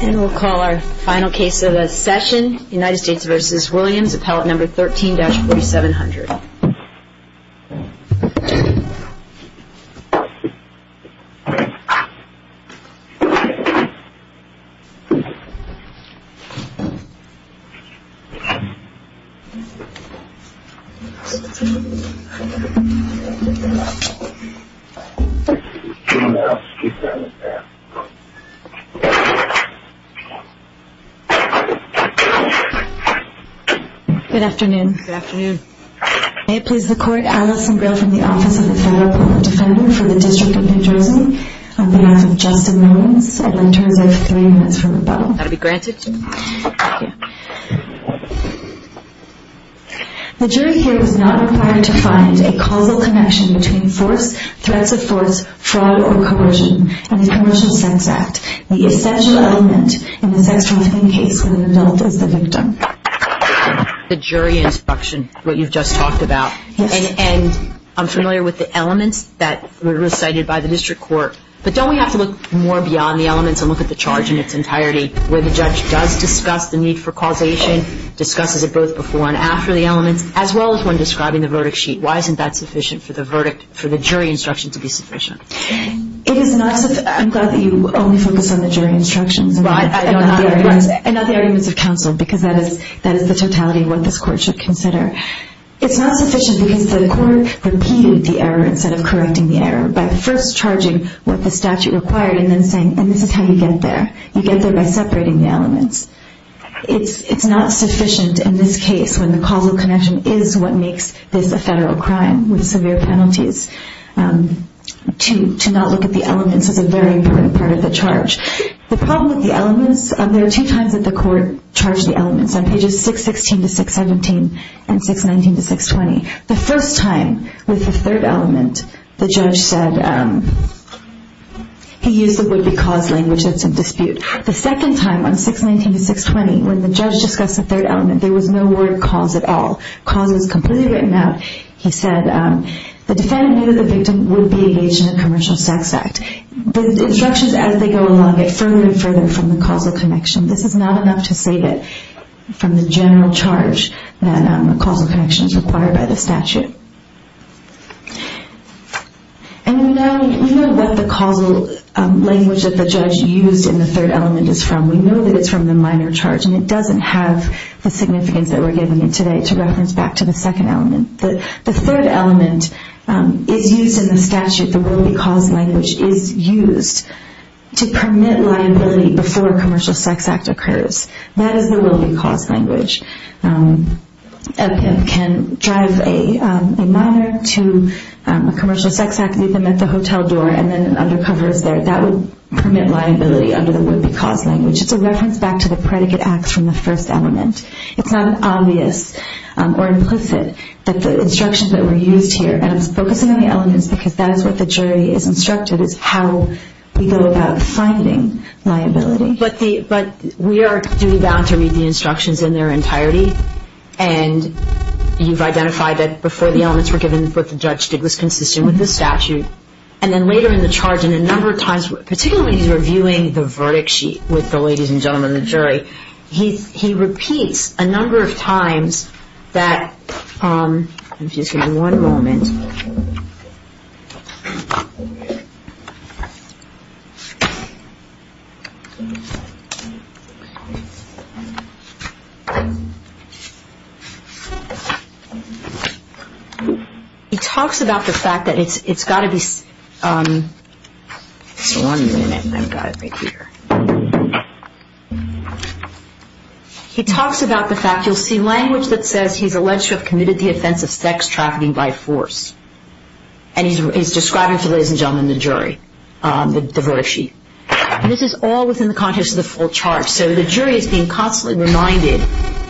And we'll call our final case of the session, United States v. Williams, appellate number 13-4700. Good afternoon. May it please the court, Alison Grail from the Office of the Federal Appellate Defender for the District of New Jersey. On behalf of Justin Williams, I'd like to reserve three minutes from rebuttal. That will be granted. The jury here is not required to find a causal connection between force, threats of force, fraud or coercion in the Commercial Sex Act. The essential element in the sex trafficking case with an adult is the victim. The jury instruction, what you've just talked about, and I'm familiar with the elements that were recited by the district court, but don't we have to look more beyond the elements and look at the charge in its entirety, where the judge does discuss the need for causation, discusses it both before and after the elements, as well as when describing the verdict sheet. Why isn't that sufficient for the verdict, for the jury instruction to be sufficient? I'm glad that you only focused on the jury instructions and not the arguments of counsel because that is the totality of what this court should consider. It's not sufficient because the court repeated the error instead of correcting the error by first charging what the statute required and then saying, and this is how you get there. You get there by separating the elements. It's not sufficient in this case when the causal connection is what makes this a federal crime with severe penalties to not look at the elements as a very important part of the charge. The problem with the elements, there are two times that the court charged the elements on pages 616 to 617 and 619 to 620. The first time with the third element, the judge said he used the would-be cause language that's in dispute. The second time on 619 to 620, when the judge discussed the third element, there was no word cause at all. Cause was completely written out. He said the defendant knew that the victim would be engaged in a commercial sex act. The instructions as they go along get further and further from the causal connection. This is not enough to say that from the general charge that a causal connection is required by the statute. And we know what the causal language that the judge used in the third element is from. We know that it's from the minor charge and it doesn't have the significance that we're giving it today to reference back to the second element. The third element is used in the statute. The will-be cause language is used to permit liability before a commercial sex act occurs. That is the will-be cause language. A victim can drive a minor to a commercial sex act, leave them at the hotel door, and then an undercover is there. That would permit liability under the would-be cause language. It's a reference back to the predicate acts from the first element. It's not obvious or implicit that the instructions that were used here, and I'm focusing on the elements because that is what the jury is instructed, is how we go about finding liability. But we are duty-bound to read the instructions in their entirety. And you've identified that before the elements were given, what the judge did was consistent with the statute. And then later in the charge and a number of times, particularly when he's reviewing the verdict sheet with the ladies and gentlemen in the jury, he repeats a number of times that – I'm just going to do one moment. He talks about the fact that it's got to be – just one minute. I've got it right here. He talks about the fact – you'll see language that says he's alleged to have committed the offense of sex trafficking by force. And he's describing to the ladies and gentlemen in the jury the verdict sheet. And this is all within the context of the full charge. So the jury is being constantly reminded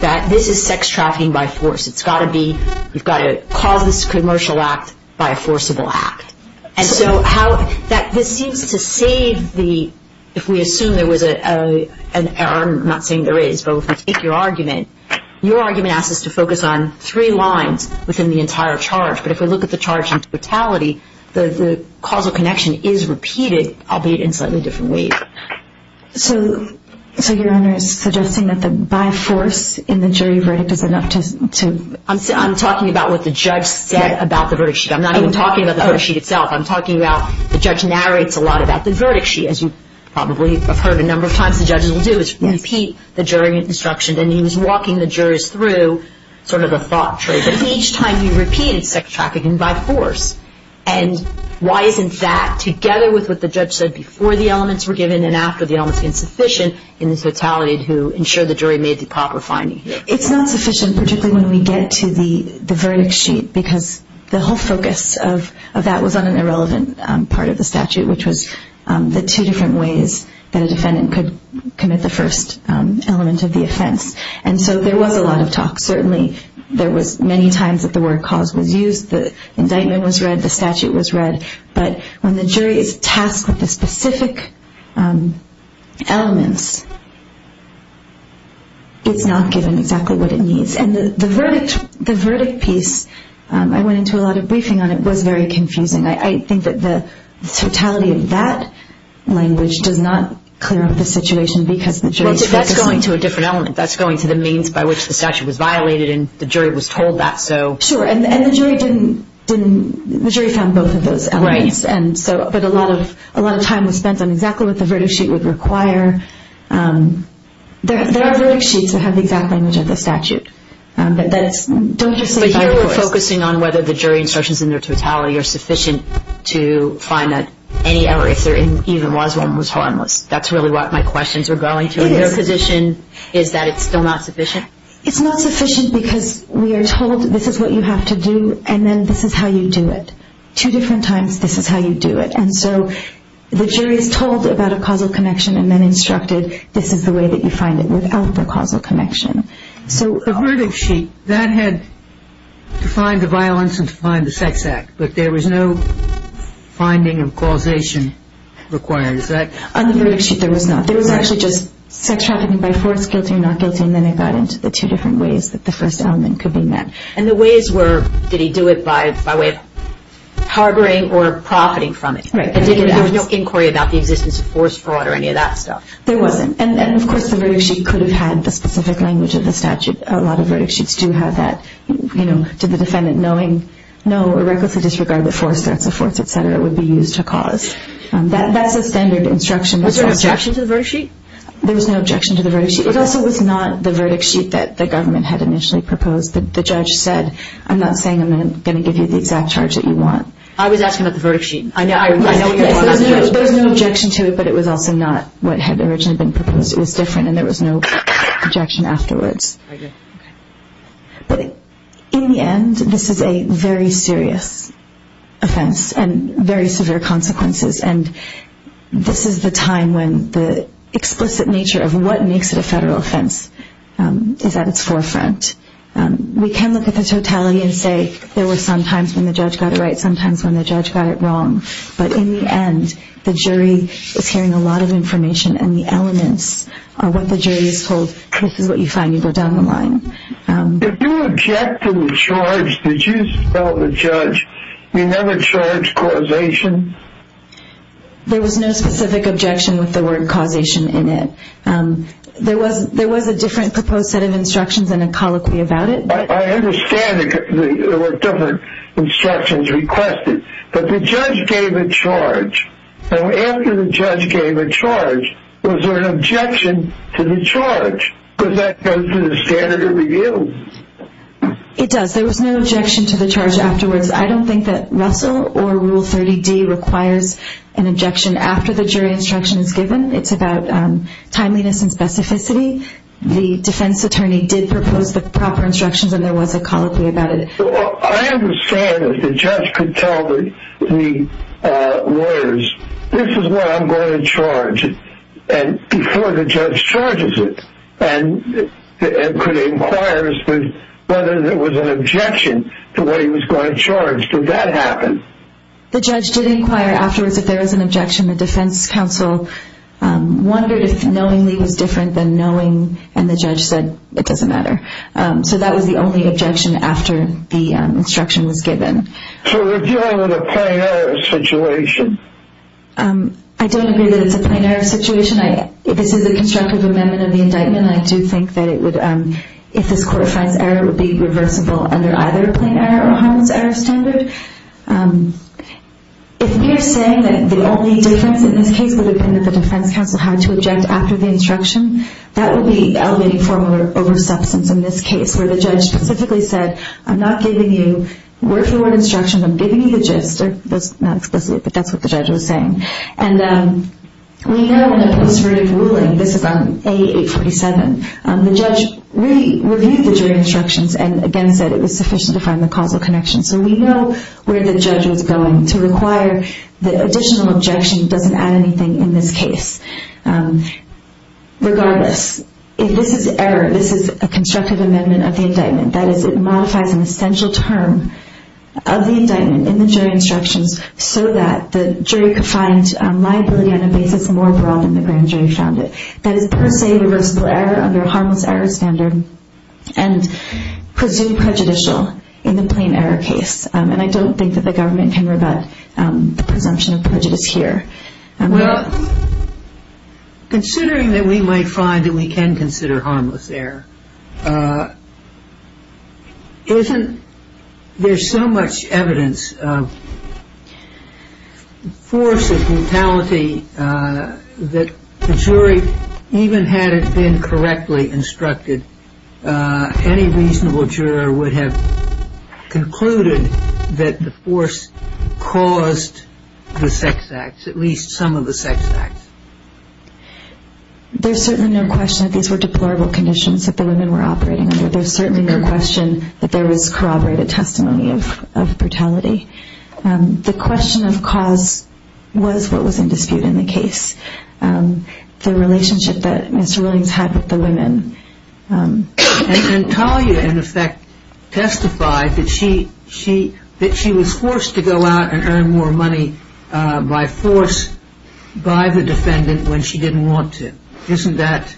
that this is sex trafficking by force. It's got to be – you've got to cause this commercial act by a forcible act. And so how – this seems to save the – if we assume there was an – I'm not saying there is, but if we take your argument, your argument asks us to focus on three lines within the entire charge. But if we look at the charge in totality, the causal connection is repeated, albeit in slightly different ways. So your Honor is suggesting that the by force in the jury verdict is enough to – I'm talking about what the judge said about the verdict sheet. I'm not even talking about the verdict sheet itself. I'm talking about – the judge narrates a lot about the verdict sheet, as you probably have heard a number of times the judges will do, is repeat the jury instruction. And he was walking the jurors through sort of the thought trace. But each time he repeated sex trafficking by force. And why isn't that, together with what the judge said before the elements were given and after the elements were given, sufficient in the totality to ensure the jury made the proper finding? It's not sufficient, particularly when we get to the verdict sheet, because the whole focus of that was on an irrelevant part of the statute, which was the two different ways that a defendant could commit the first element of the offense. And so there was a lot of talk. Certainly there was many times that the word cause was used. The indictment was read. The statute was read. But when the jury is tasked with the specific elements, it's not given exactly what it needs. And the verdict piece, I went into a lot of briefing on it. It was very confusing. I think that the totality of that language does not clear up the situation because the jury – Well, that's going to a different element. That's going to the means by which the statute was violated and the jury was told that. Sure, and the jury found both of those elements. Right. But a lot of time was spent on exactly what the verdict sheet would require. There are verdict sheets that have the exact language of the statute. But here we're focusing on whether the jury instructions in their totality are sufficient to find that any error, if there even was one, was harmless. That's really what my questions were going to. Their position is that it's still not sufficient? It's not sufficient because we are told this is what you have to do and then this is how you do it. Two different times, this is how you do it. And so the jury is told about a causal connection and then instructed, this is the way that you find it without the causal connection. The verdict sheet, that had to find the violence and to find the sex act. But there was no finding of causation required. On the verdict sheet, there was not. There was actually just sex trafficking by force, guilty or not guilty, and then it got into the two different ways that the first element could be met. And the ways were, did he do it by way of harboring or profiting from it? Right. There was no inquiry about the existence of force fraud or any of that stuff? There wasn't. And, of course, the verdict sheet could have had the specific language of the statute. A lot of verdict sheets do have that, you know, to the defendant knowing, no, a reckless disregard of the force, threats of force, et cetera, would be used to cause. That's a standard instruction. Was there an objection to the verdict sheet? There was no objection to the verdict sheet. It also was not the verdict sheet that the government had initially proposed. The judge said, I'm not saying I'm going to give you the exact charge that you want. I was asking about the verdict sheet. There was no objection to it, but it was also not what had originally been proposed. It was different, and there was no objection afterwards. I get it. Okay. But in the end, this is a very serious offense and very severe consequences. And this is the time when the explicit nature of what makes it a federal offense is at its forefront. We can look at the totality and say there were some times when the judge got it right, some times when the judge got it wrong. But in the end, the jury is hearing a lot of information, and the elements are what the jury is told, this is what you find, you go down the line. If you object to the charge, did you spell the judge? You never charged causation? There was no specific objection with the word causation in it. There was a different proposed set of instructions and a colloquy about it. I understand there were different instructions requested, but the judge gave a charge. And after the judge gave a charge, was there an objection to the charge? Because that goes to the standard of review. It does. There was no objection to the charge afterwards. I don't think that Russell or Rule 30D requires an objection after the jury instruction is given. It's about timeliness and specificity. The defense attorney did propose the proper instructions, and there was a colloquy about it. I understand if the judge could tell the lawyers, this is what I'm going to charge, before the judge charges it, and could inquire as to whether there was an objection to what he was going to charge. Did that happen? The judge did inquire afterwards if there was an objection. The defense counsel wondered if knowingly was different than knowing, and the judge said it doesn't matter. So that was the only objection after the instruction was given. So we're dealing with a plenary situation. I don't agree that it's a plenary situation. This is a constructive amendment of the indictment, and I do think that if this court finds error, it would be reversible under either a plenary or a harmless error standard. If we are saying that the only difference in this case would have been that the defense counsel had to object after the instruction, that would be elevating formal over substance in this case, where the judge specifically said, I'm not giving you word for word instructions. I'm giving you the gist. That's not explicit, but that's what the judge was saying. And we know in the post-verdict ruling, this is on A847, the judge re-reviewed the jury instructions and again said it was sufficient to find the causal connection. So we know where the judge was going to require the additional objection doesn't add anything in this case. Regardless, if this is error, this is a constructive amendment of the indictment. That is, it modifies an essential term of the indictment in the jury instructions so that the jury could find liability on a basis more broad than the grand jury found it. That is per se reversible error under a harmless error standard and presumed prejudicial in the plain error case. And I don't think that the government can rebut the presumption of prejudice here. Well, considering that we might find that we can consider harmless error, isn't there so much evidence of force and brutality that the jury, even had it been correctly instructed, any reasonable juror would have concluded that the force caused the sex acts, at least some of the sex acts? There's certainly no question that these were deplorable conditions that the women were operating under. There's certainly no question that there was corroborated testimony of brutality. The question of cause was what was in dispute in the case. The relationship that Mr. Williams had with the women. And Talia, in effect, testified that she was forced to go out and earn more money by force by the defendant when she didn't want to. Isn't that?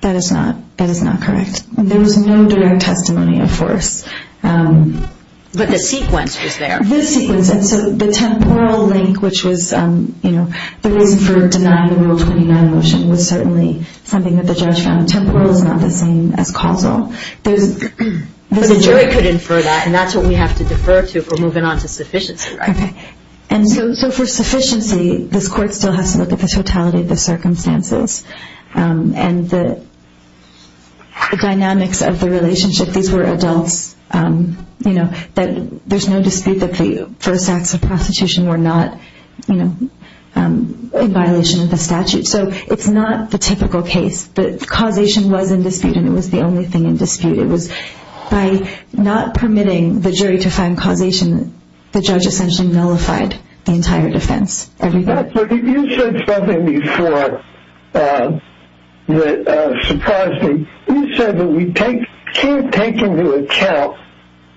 That is not correct. There was no direct testimony of force. But the sequence was there. The temporal link, which was the reason for denying the Rule 29 motion, was certainly something that the judge found. Temporal is not the same as causal. But the jury could infer that, and that's what we have to defer to if we're moving on to sufficiency, right? And so for sufficiency, this court still has to look at the totality of the circumstances. And the dynamics of the relationship. These were adults. There's no dispute that the first acts of prostitution were not in violation of the statute. So it's not the typical case. But causation was in dispute, and it was the only thing in dispute. It was by not permitting the jury to find causation, the judge essentially nullified the entire defense. You said something before that surprised me. You said that we can't take into account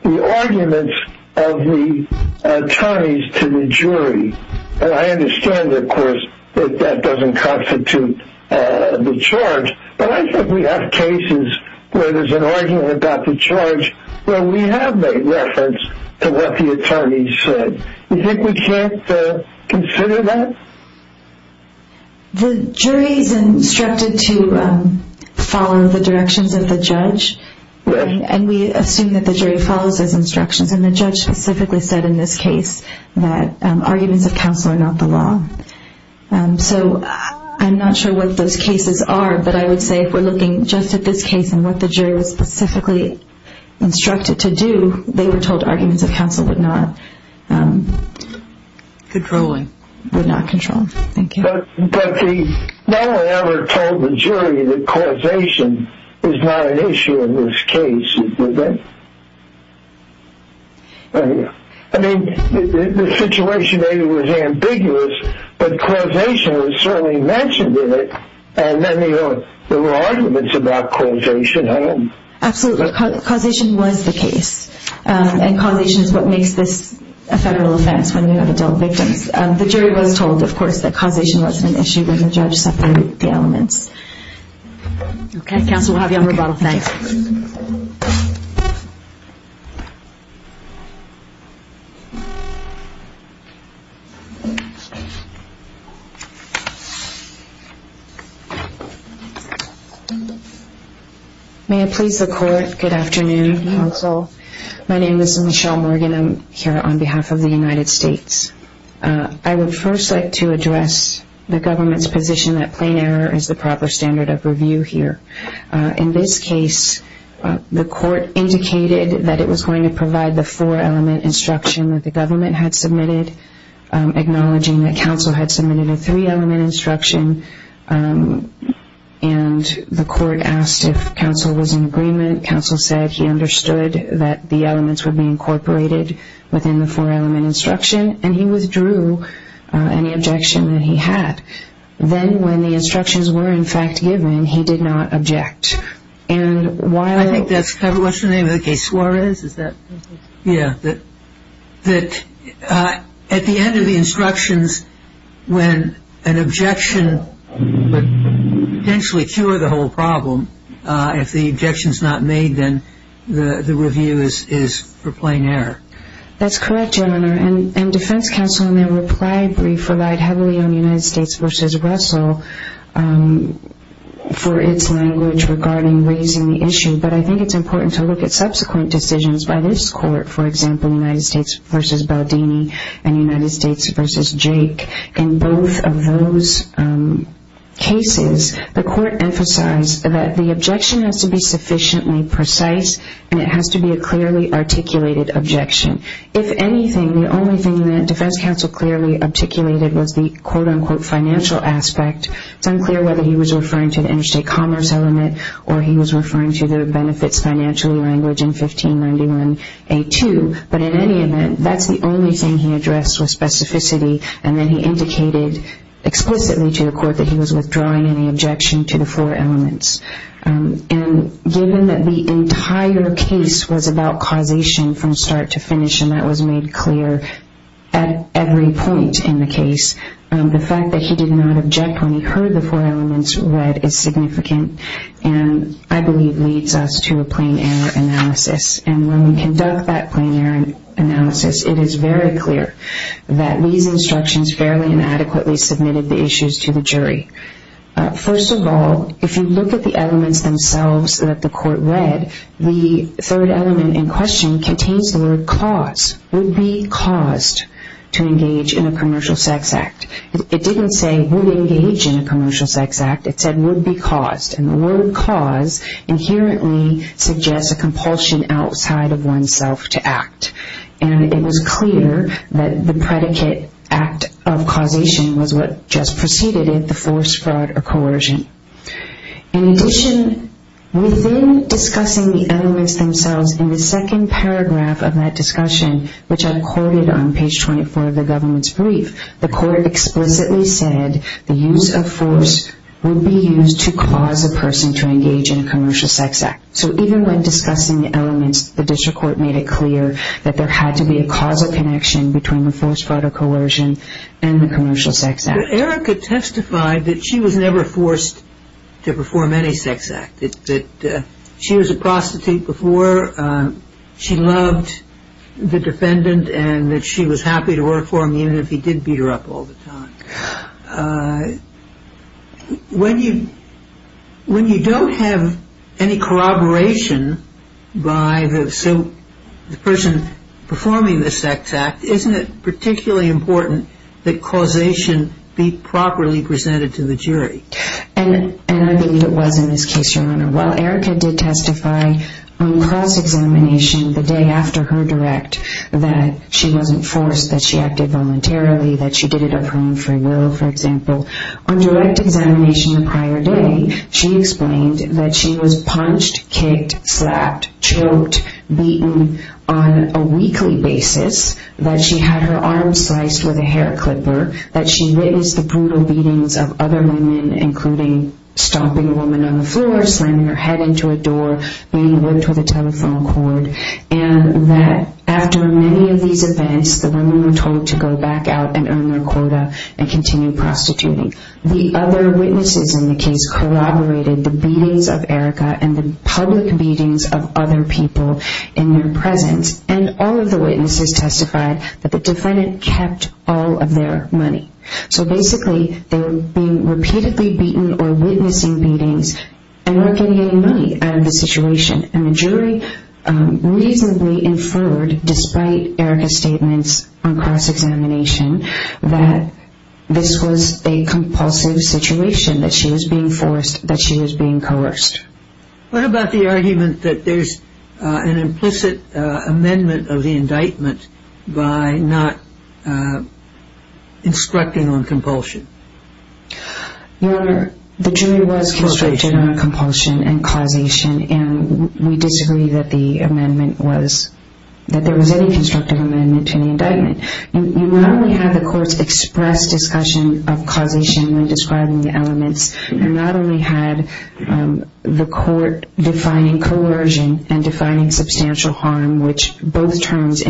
the arguments of the attorneys to the jury. And I understand, of course, that that doesn't constitute the charge. But I think we have cases where there's an argument about the charge where we have made reference to what the attorneys said. Do you think we can't consider that? The jury is instructed to follow the directions of the judge, and we assume that the jury follows those instructions. And the judge specifically said in this case that arguments of counsel are not the law. So I'm not sure what those cases are, but I would say if we're looking just at this case and what the jury was specifically instructed to do, they were told arguments of counsel would not control. Thank you. But no one ever told the jury that causation is not an issue in this case, did they? I mean, the situation maybe was ambiguous, but causation was certainly mentioned in it. And then there were arguments about causation. Absolutely. Causation was the case. And causation is what makes this a federal offense when you have adult victims. The jury was told, of course, that causation wasn't an issue when the judge separated the elements. Okay. Counsel, we'll have you on rebuttal tonight. May I please the court? Good afternoon, counsel. My name is Michelle Morgan. I'm here on behalf of the United States. I would first like to address the government's position that plain error is the proper standard of review here. In this case, the court indicated that it was going to provide the four-element instruction that the government had submitted, acknowledging that counsel had submitted a three-element instruction, and the court asked if counsel was in agreement. Counsel said he understood that the elements would be incorporated within the four-element instruction, and he withdrew any objection that he had. Then when the instructions were, in fact, given, he did not object. I think that's covered. What's the name of the case? Suarez? Is that? Yeah. That at the end of the instructions, when an objection would potentially cure the whole problem, if the objection is not made, then the review is for plain error. That's correct, Your Honor. And defense counsel in their reply brief relied heavily on United States v. Russell for its language regarding raising the issue, but I think it's important to look at subsequent decisions by this court, for example, United States v. Baldini and United States v. Jake. In both of those cases, the court emphasized that the objection has to be sufficiently precise, and it has to be a clearly articulated objection. If anything, the only thing that defense counsel clearly articulated was the quote-unquote financial aspect. It's unclear whether he was referring to the interstate commerce element or he was referring to the benefits financially language in 1591A2, but in any event, that's the only thing he addressed was specificity, and then he indicated explicitly to the court that he was withdrawing any objection to the four elements. And given that the entire case was about causation from start to finish and that was made clear at every point in the case, the fact that he did not object when he heard the four elements read is significant and I believe leads us to a plain error analysis. And when we conduct that plain error analysis, it is very clear that these instructions fairly and adequately submitted the issues to the jury. First of all, if you look at the elements themselves that the court read, the third element in question contains the word cause, would be caused to engage in a commercial sex act. It didn't say would engage in a commercial sex act. It said would be caused, and the word cause inherently suggests a compulsion outside of oneself to act. And it was clear that the predicate act of causation was what just preceded it, the force, fraud, or coercion. In addition, within discussing the elements themselves in the second paragraph of that discussion, which I quoted on page 24 of the government's brief, the court explicitly said the use of force would be used to cause a person to engage in a commercial sex act. So even when discussing the elements, the district court made it clear that there had to be a causal connection between the force, fraud, or coercion and the commercial sex act. Erica testified that she was never forced to perform any sex act, that she was a prostitute before. She loved the defendant and that she was happy to work for him even if he did beat her up all the time. When you don't have any corroboration by the person performing the sex act, isn't it particularly important that causation be properly presented to the jury? And I believe it was in this case, Your Honor. While Erica did testify on cross-examination the day after her direct that she wasn't forced, that she acted voluntarily, that she did it of her own free will, for example, on direct examination the prior day, she explained that she was punched, kicked, slapped, choked, beaten on a weekly basis, that she had her arms sliced with a hair clipper, that she witnessed the brutal beatings of other women, including stomping a woman on the floor, slamming her head into a door, being whipped with a telephone cord, and that after many of these events, the women were told to go back out and earn their quota and continue prostituting. The other witnesses in the case corroborated the beatings of Erica and the public beatings of other people in their presence. And all of the witnesses testified that the defendant kept all of their money. So basically, they were being repeatedly beaten or witnessing beatings and weren't getting any money out of the situation. And the jury reasonably inferred, despite Erica's statements on cross-examination, that this was a compulsive situation, that she was being forced, that she was being coerced. What about the argument that there's an implicit amendment of the indictment by not instructing on compulsion? Your Honor, the jury was constricted on compulsion and causation, and we disagree that there was any constructive amendment to the indictment. You not only have the courts express discussion of causation when describing the elements, you not only had the court defining coercion and defining substantial harm, but you also have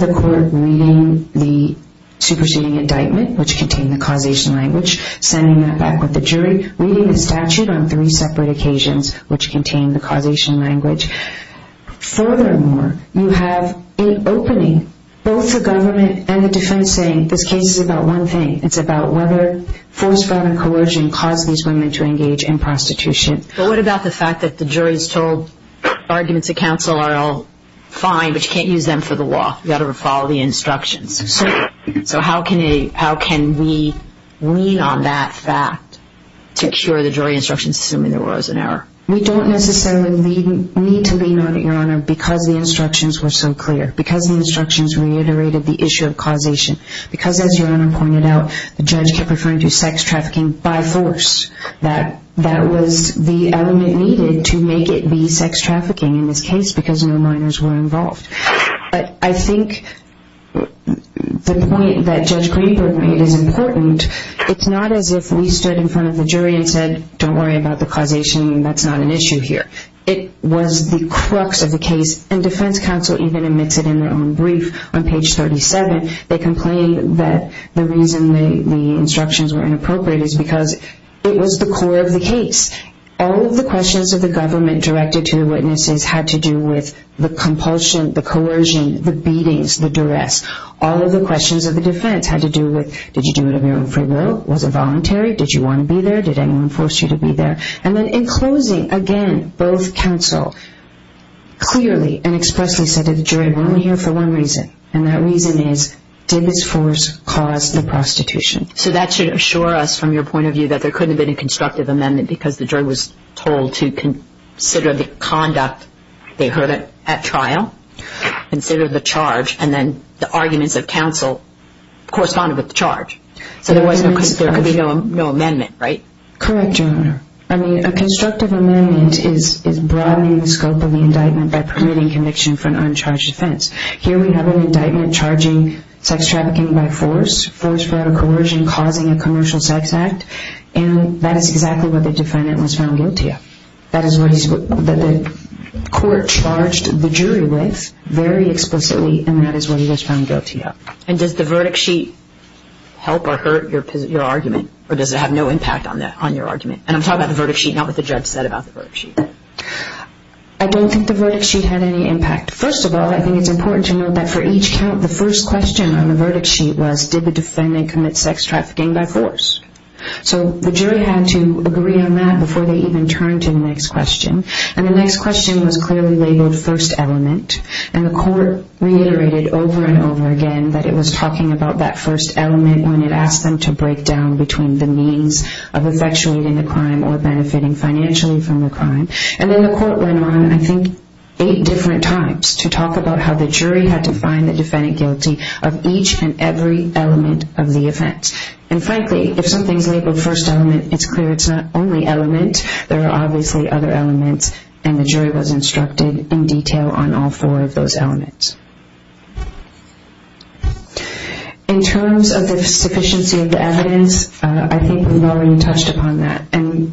the court reading the superseding indictment, which contained the causation language, sending it back with the jury, reading the statute on three separate occasions, which contained the causation language. Furthermore, you have in opening both the government and the defense saying this case is about one thing. It's about whether forced violence and coercion caused these women to engage in prostitution. But what about the fact that the jury's told arguments at counsel are all fine, but you can't use them for the law? You've got to follow the instructions. So how can we lean on that fact to cure the jury instructions, assuming there was an error? We don't necessarily need to lean on it, Your Honor, because the instructions were so clear, because the instructions reiterated the issue of causation, because as Your Honor pointed out, the judge kept referring to sex trafficking by force. That was the element needed to make it be sex trafficking in this case because no minors were involved. But I think the point that Judge Greenberg made is important. It's not as if we stood in front of the jury and said, don't worry about the causation, that's not an issue here. It was the crux of the case, and defense counsel even admits it in their own brief. On page 37, they complain that the reason the instructions were inappropriate is because it was the core of the case. All of the questions of the government directed to the witnesses had to do with the compulsion, the coercion, the beatings, the duress. All of the questions of the defense had to do with, did you do it of your own free will? Was it voluntary? Did you want to be there? Did anyone force you to be there? And then in closing, again, both counsel clearly and expressly said to the jury, we're only here for one reason, and that reason is, did this force cause the prostitution? So that should assure us from your point of view that there couldn't have been a constructive amendment because the jury was told to consider the conduct they heard at trial, consider the charge, and then the arguments of counsel corresponded with the charge. So there could be no amendment, right? Correct, Your Honor. I mean, a constructive amendment is broadening the scope of the indictment by permitting conviction for an uncharged offense. Here we have an indictment charging sex trafficking by force, force, fraud, or coercion causing a commercial sex act, and that is exactly what the defendant was found guilty of. That is what the court charged the jury with very explicitly, and that is what he was found guilty of. And does the verdict sheet help or hurt your argument, or does it have no impact on your argument? And I'm talking about the verdict sheet, not what the judge said about the verdict sheet. I don't think the verdict sheet had any impact. First of all, I think it's important to note that for each count, the first question on the verdict sheet was, did the defendant commit sex trafficking by force? So the jury had to agree on that before they even turned to the next question, and the next question was clearly labeled first element, and the court reiterated over and over again that it was talking about that first element when it asked them to break down between the means of effectuating the crime or benefiting financially from the crime, and then the court went on, I think, eight different times to talk about how the jury had to find the defendant guilty of each and every element of the offense. And frankly, if something is labeled first element, it's clear it's not only element. There are obviously other elements, and the jury was instructed in detail on all four of those elements. In terms of the sufficiency of the evidence, I think we've already touched upon that, and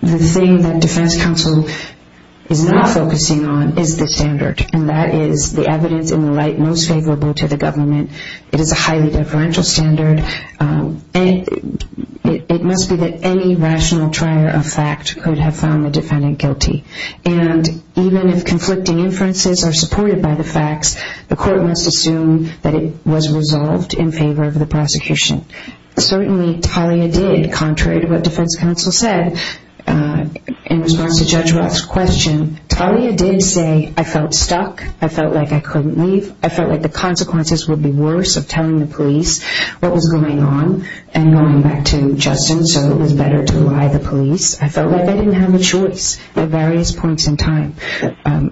the thing that defense counsel is not focusing on is the standard, and that is the evidence in the light most favorable to the government. It is a highly deferential standard. It must be that any rational trier of fact could have found the defendant guilty, and even if conflicting inferences are supported by the facts, the court must assume that it was resolved in favor of the prosecution. Certainly, Talia did, contrary to what defense counsel said in response to Judge Roth's question. Talia did say, I felt stuck. I felt like I couldn't leave. I felt like the consequences would be worse of telling the police. What was going on, and going back to Justin, so it was better to lie to the police. I felt like I didn't have a choice at various points in time.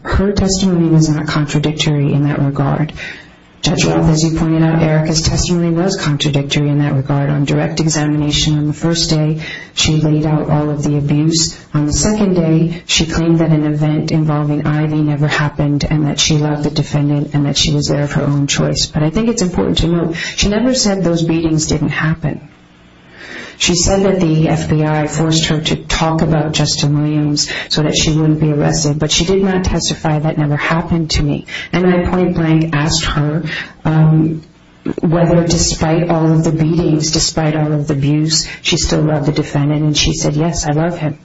Her testimony was not contradictory in that regard. Judge Roth, as you pointed out, Erica's testimony was contradictory in that regard. On direct examination on the first day, she laid out all of the abuse. On the second day, she claimed that an event involving Ivy never happened, and that she loved the defendant, and that she was there of her own choice. But I think it's important to note, she never said those beatings didn't happen. She said that the FBI forced her to talk about Justin Williams so that she wouldn't be arrested, but she did not testify that never happened to me. And I point blank asked her whether despite all of the beatings, despite all of the abuse, she still loved the defendant, and she said, yes, I love him.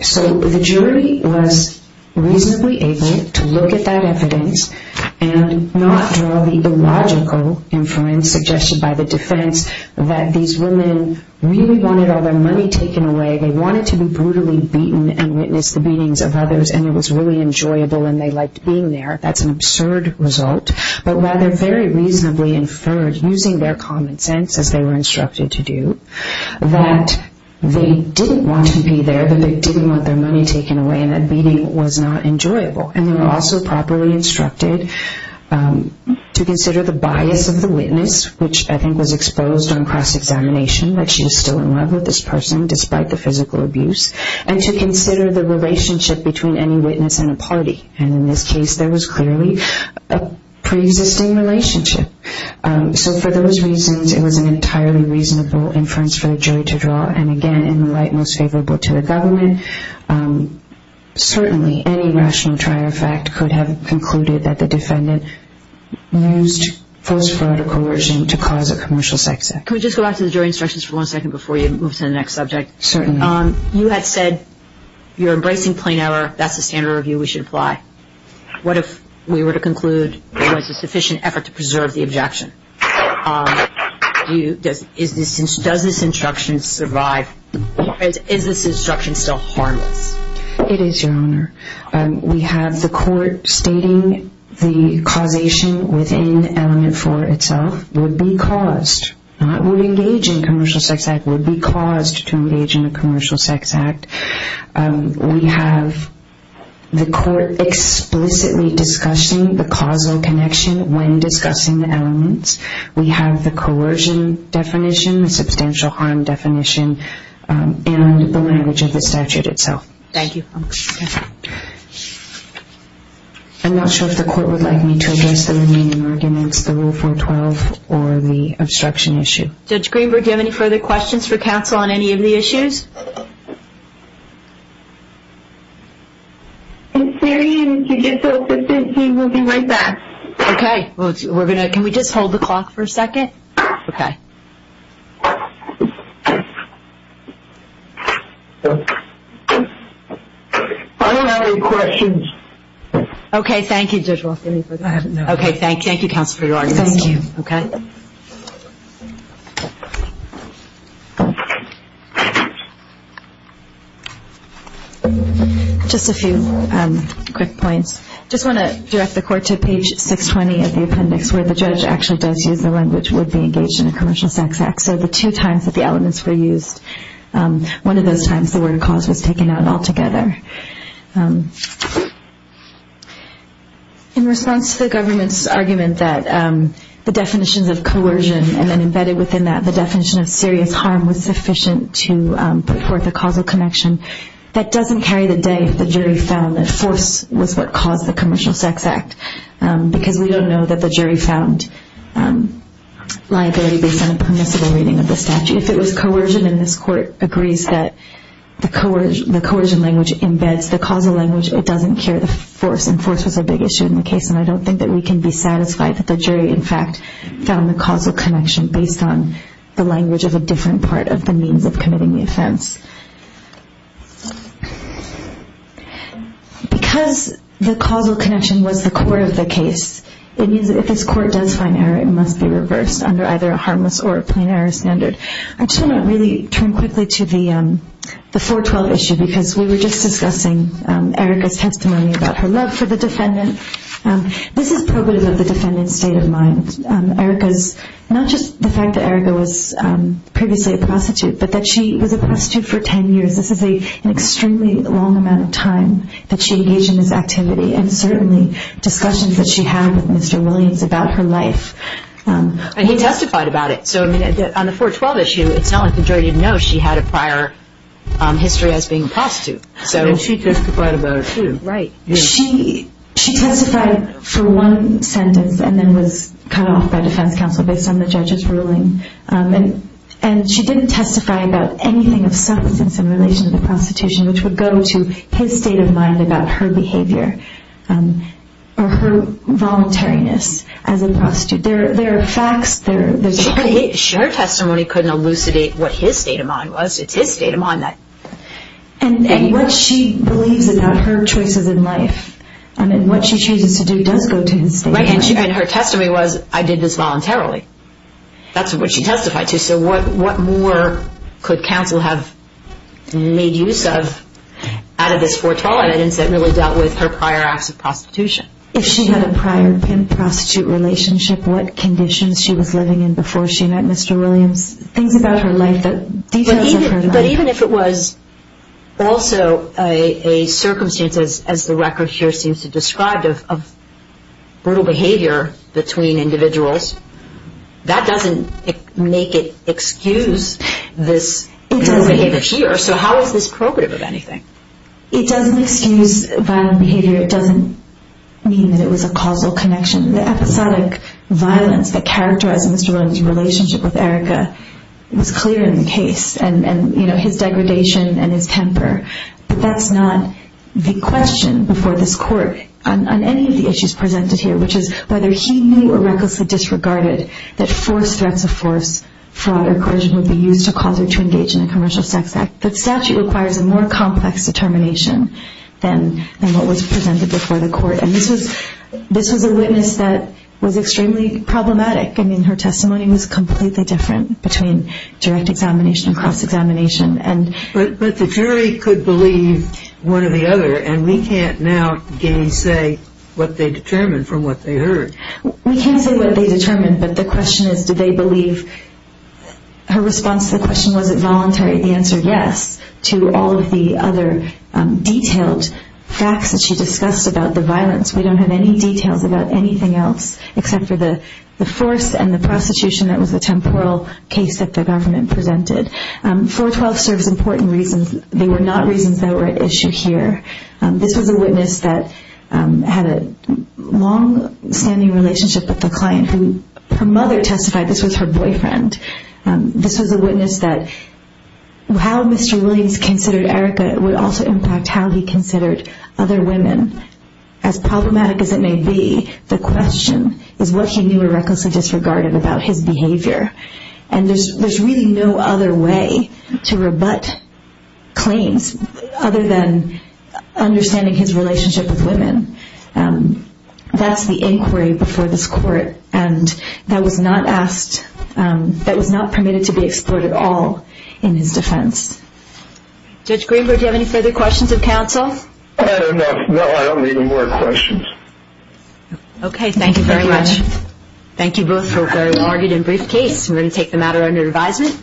So the jury was reasonably able to look at that evidence and not draw the logical inference suggested by the defense that these women really wanted all their money taken away. They wanted to be brutally beaten and witness the beatings of others, and it was really enjoyable, and they liked being there. That's an absurd result, but rather very reasonably inferred, using their common sense, as they were instructed to do, that they didn't want to be there, that they didn't want their money taken away, and that beating was not enjoyable. And they were also properly instructed to consider the bias of the witness, which I think was exposed on cross-examination, that she was still in love with this person despite the physical abuse, and to consider the relationship between any witness and a party. And in this case, there was clearly a preexisting relationship. So for those reasons, it was an entirely reasonable inference for the jury to draw. And again, in the light most favorable to the government, certainly any rational trier fact could have concluded that the defendant used false-clarity coercion to cause a commercial sex act. Can we just go back to the jury instructions for one second before you move to the next subject? Certainly. You had said you're embracing plain error. That's the standard review we should apply. What if we were to conclude there was a sufficient effort to preserve the objection? Does this instruction survive? Is this instruction still harmless? It is, Your Honor. We have the court stating the causation within Element 4 itself would be caused, not would engage in a commercial sex act, would be caused to engage in a commercial sex act. We have the court explicitly discussing the causal connection when discussing the elements. We have the coercion definition, the substantial harm definition, and the language of the statute itself. Thank you. I'm not sure if the court would like me to address the remaining arguments, the Rule 412 or the obstruction issue. Judge Greenberg, do you have any further questions for counsel on any of the issues? I'm sorry. We'll be right back. Okay. Can we just hold the clock for a second? Okay. I don't have any questions. Okay. Thank you, Judge Roth. Thank you, Counsel for your argument. Thank you. Okay. Just a few quick points. I just want to direct the court to page 620 of the appendix where the judge actually does use the language would be engaged in a commercial sex act. So the two times that the elements were used, one of those times the word cause was taken out altogether. In response to the government's argument that the definitions of coercion and then embedded within that the definition of serious harm was sufficient to put forth a causal connection, that doesn't carry the day if the jury found that force was what caused the commercial sex act because we don't know that the jury found liability based on a permissible reading of the statute. If it was coercion and this court agrees that the coercion language in the statute embeds the causal language, it doesn't carry the force. And force was a big issue in the case, and I don't think that we can be satisfied that the jury in fact found the causal connection based on the language of a different part of the means of committing the offense. Because the causal connection was the core of the case, it means that if this court does find error, it must be reversed under either a harmless or a plain error standard. I just want to really turn quickly to the 412 issue because we were just discussing Erica's testimony about her love for the defendant. This is probative of the defendant's state of mind. Not just the fact that Erica was previously a prostitute, but that she was a prostitute for 10 years. This is an extremely long amount of time that she engaged in this activity and certainly discussions that she had with Mr. Williams about her life. And he testified about it. So on the 412 issue, it's not like the jury didn't know she had a prior history as being a prostitute. And she testified about it too. Right. She testified for one sentence and then was cut off by defense counsel based on the judge's ruling. And she didn't testify about anything of substance in relation to the prostitution, which would go to his state of mind about her behavior or her voluntariness as a prostitute. There are facts. But her testimony couldn't elucidate what his state of mind was. It's his state of mind. And what she believes about her choices in life and what she chooses to do does go to his state of mind. Right. And her testimony was, I did this voluntarily. That's what she testified to. So what more could counsel have made use of out of this 412? It's the evidence that really dealt with her prior acts of prostitution. If she had a prior prostitute relationship, what conditions she was living in before she met Mr. Williams, things about her life, details of her life. But even if it was also a circumstance, as the record here seems to describe, of brutal behavior between individuals, that doesn't make it excuse this behavior here. So how is this probative of anything? It doesn't excuse violent behavior. It doesn't mean that it was a causal connection. The episodic violence that characterized Mr. Williams' relationship with Erica was clear in the case, and his degradation and his temper. But that's not the question before this court on any of the issues presented here, which is whether he knew or recklessly disregarded that forced threats of force, fraud or coercion would be used to cause her to engage in a commercial sex act. The statute requires a more complex determination than what was presented before the court. And this was a witness that was extremely problematic. I mean, her testimony was completely different between direct examination and cross-examination. But the jury could believe one or the other, and we can't now say what they determined from what they heard. We can't say what they determined, but the question is did they believe. Her response to the question, was it voluntary? The answer, yes, to all of the other detailed facts that she discussed about the violence. We don't have any details about anything else except for the force and the prostitution. That was a temporal case that the government presented. 412 serves important reasons. They were not reasons that were at issue here. This was a witness that had a long-standing relationship with the client. Her mother testified this was her boyfriend. This was a witness that how Mr. Williams considered Erica would also impact how he considered other women. As problematic as it may be, the question is what he knew or recklessly disregarded about his behavior. And there's really no other way to rebut claims other than understanding his relationship with women. That's the inquiry before this court. And that was not asked, that was not permitted to be explored at all in his defense. Judge Greenberg, do you have any further questions of counsel? No, I don't need any more questions. Okay, thank you very much. Thank you both for a very large and brief case. We're going to take the matter under advisement.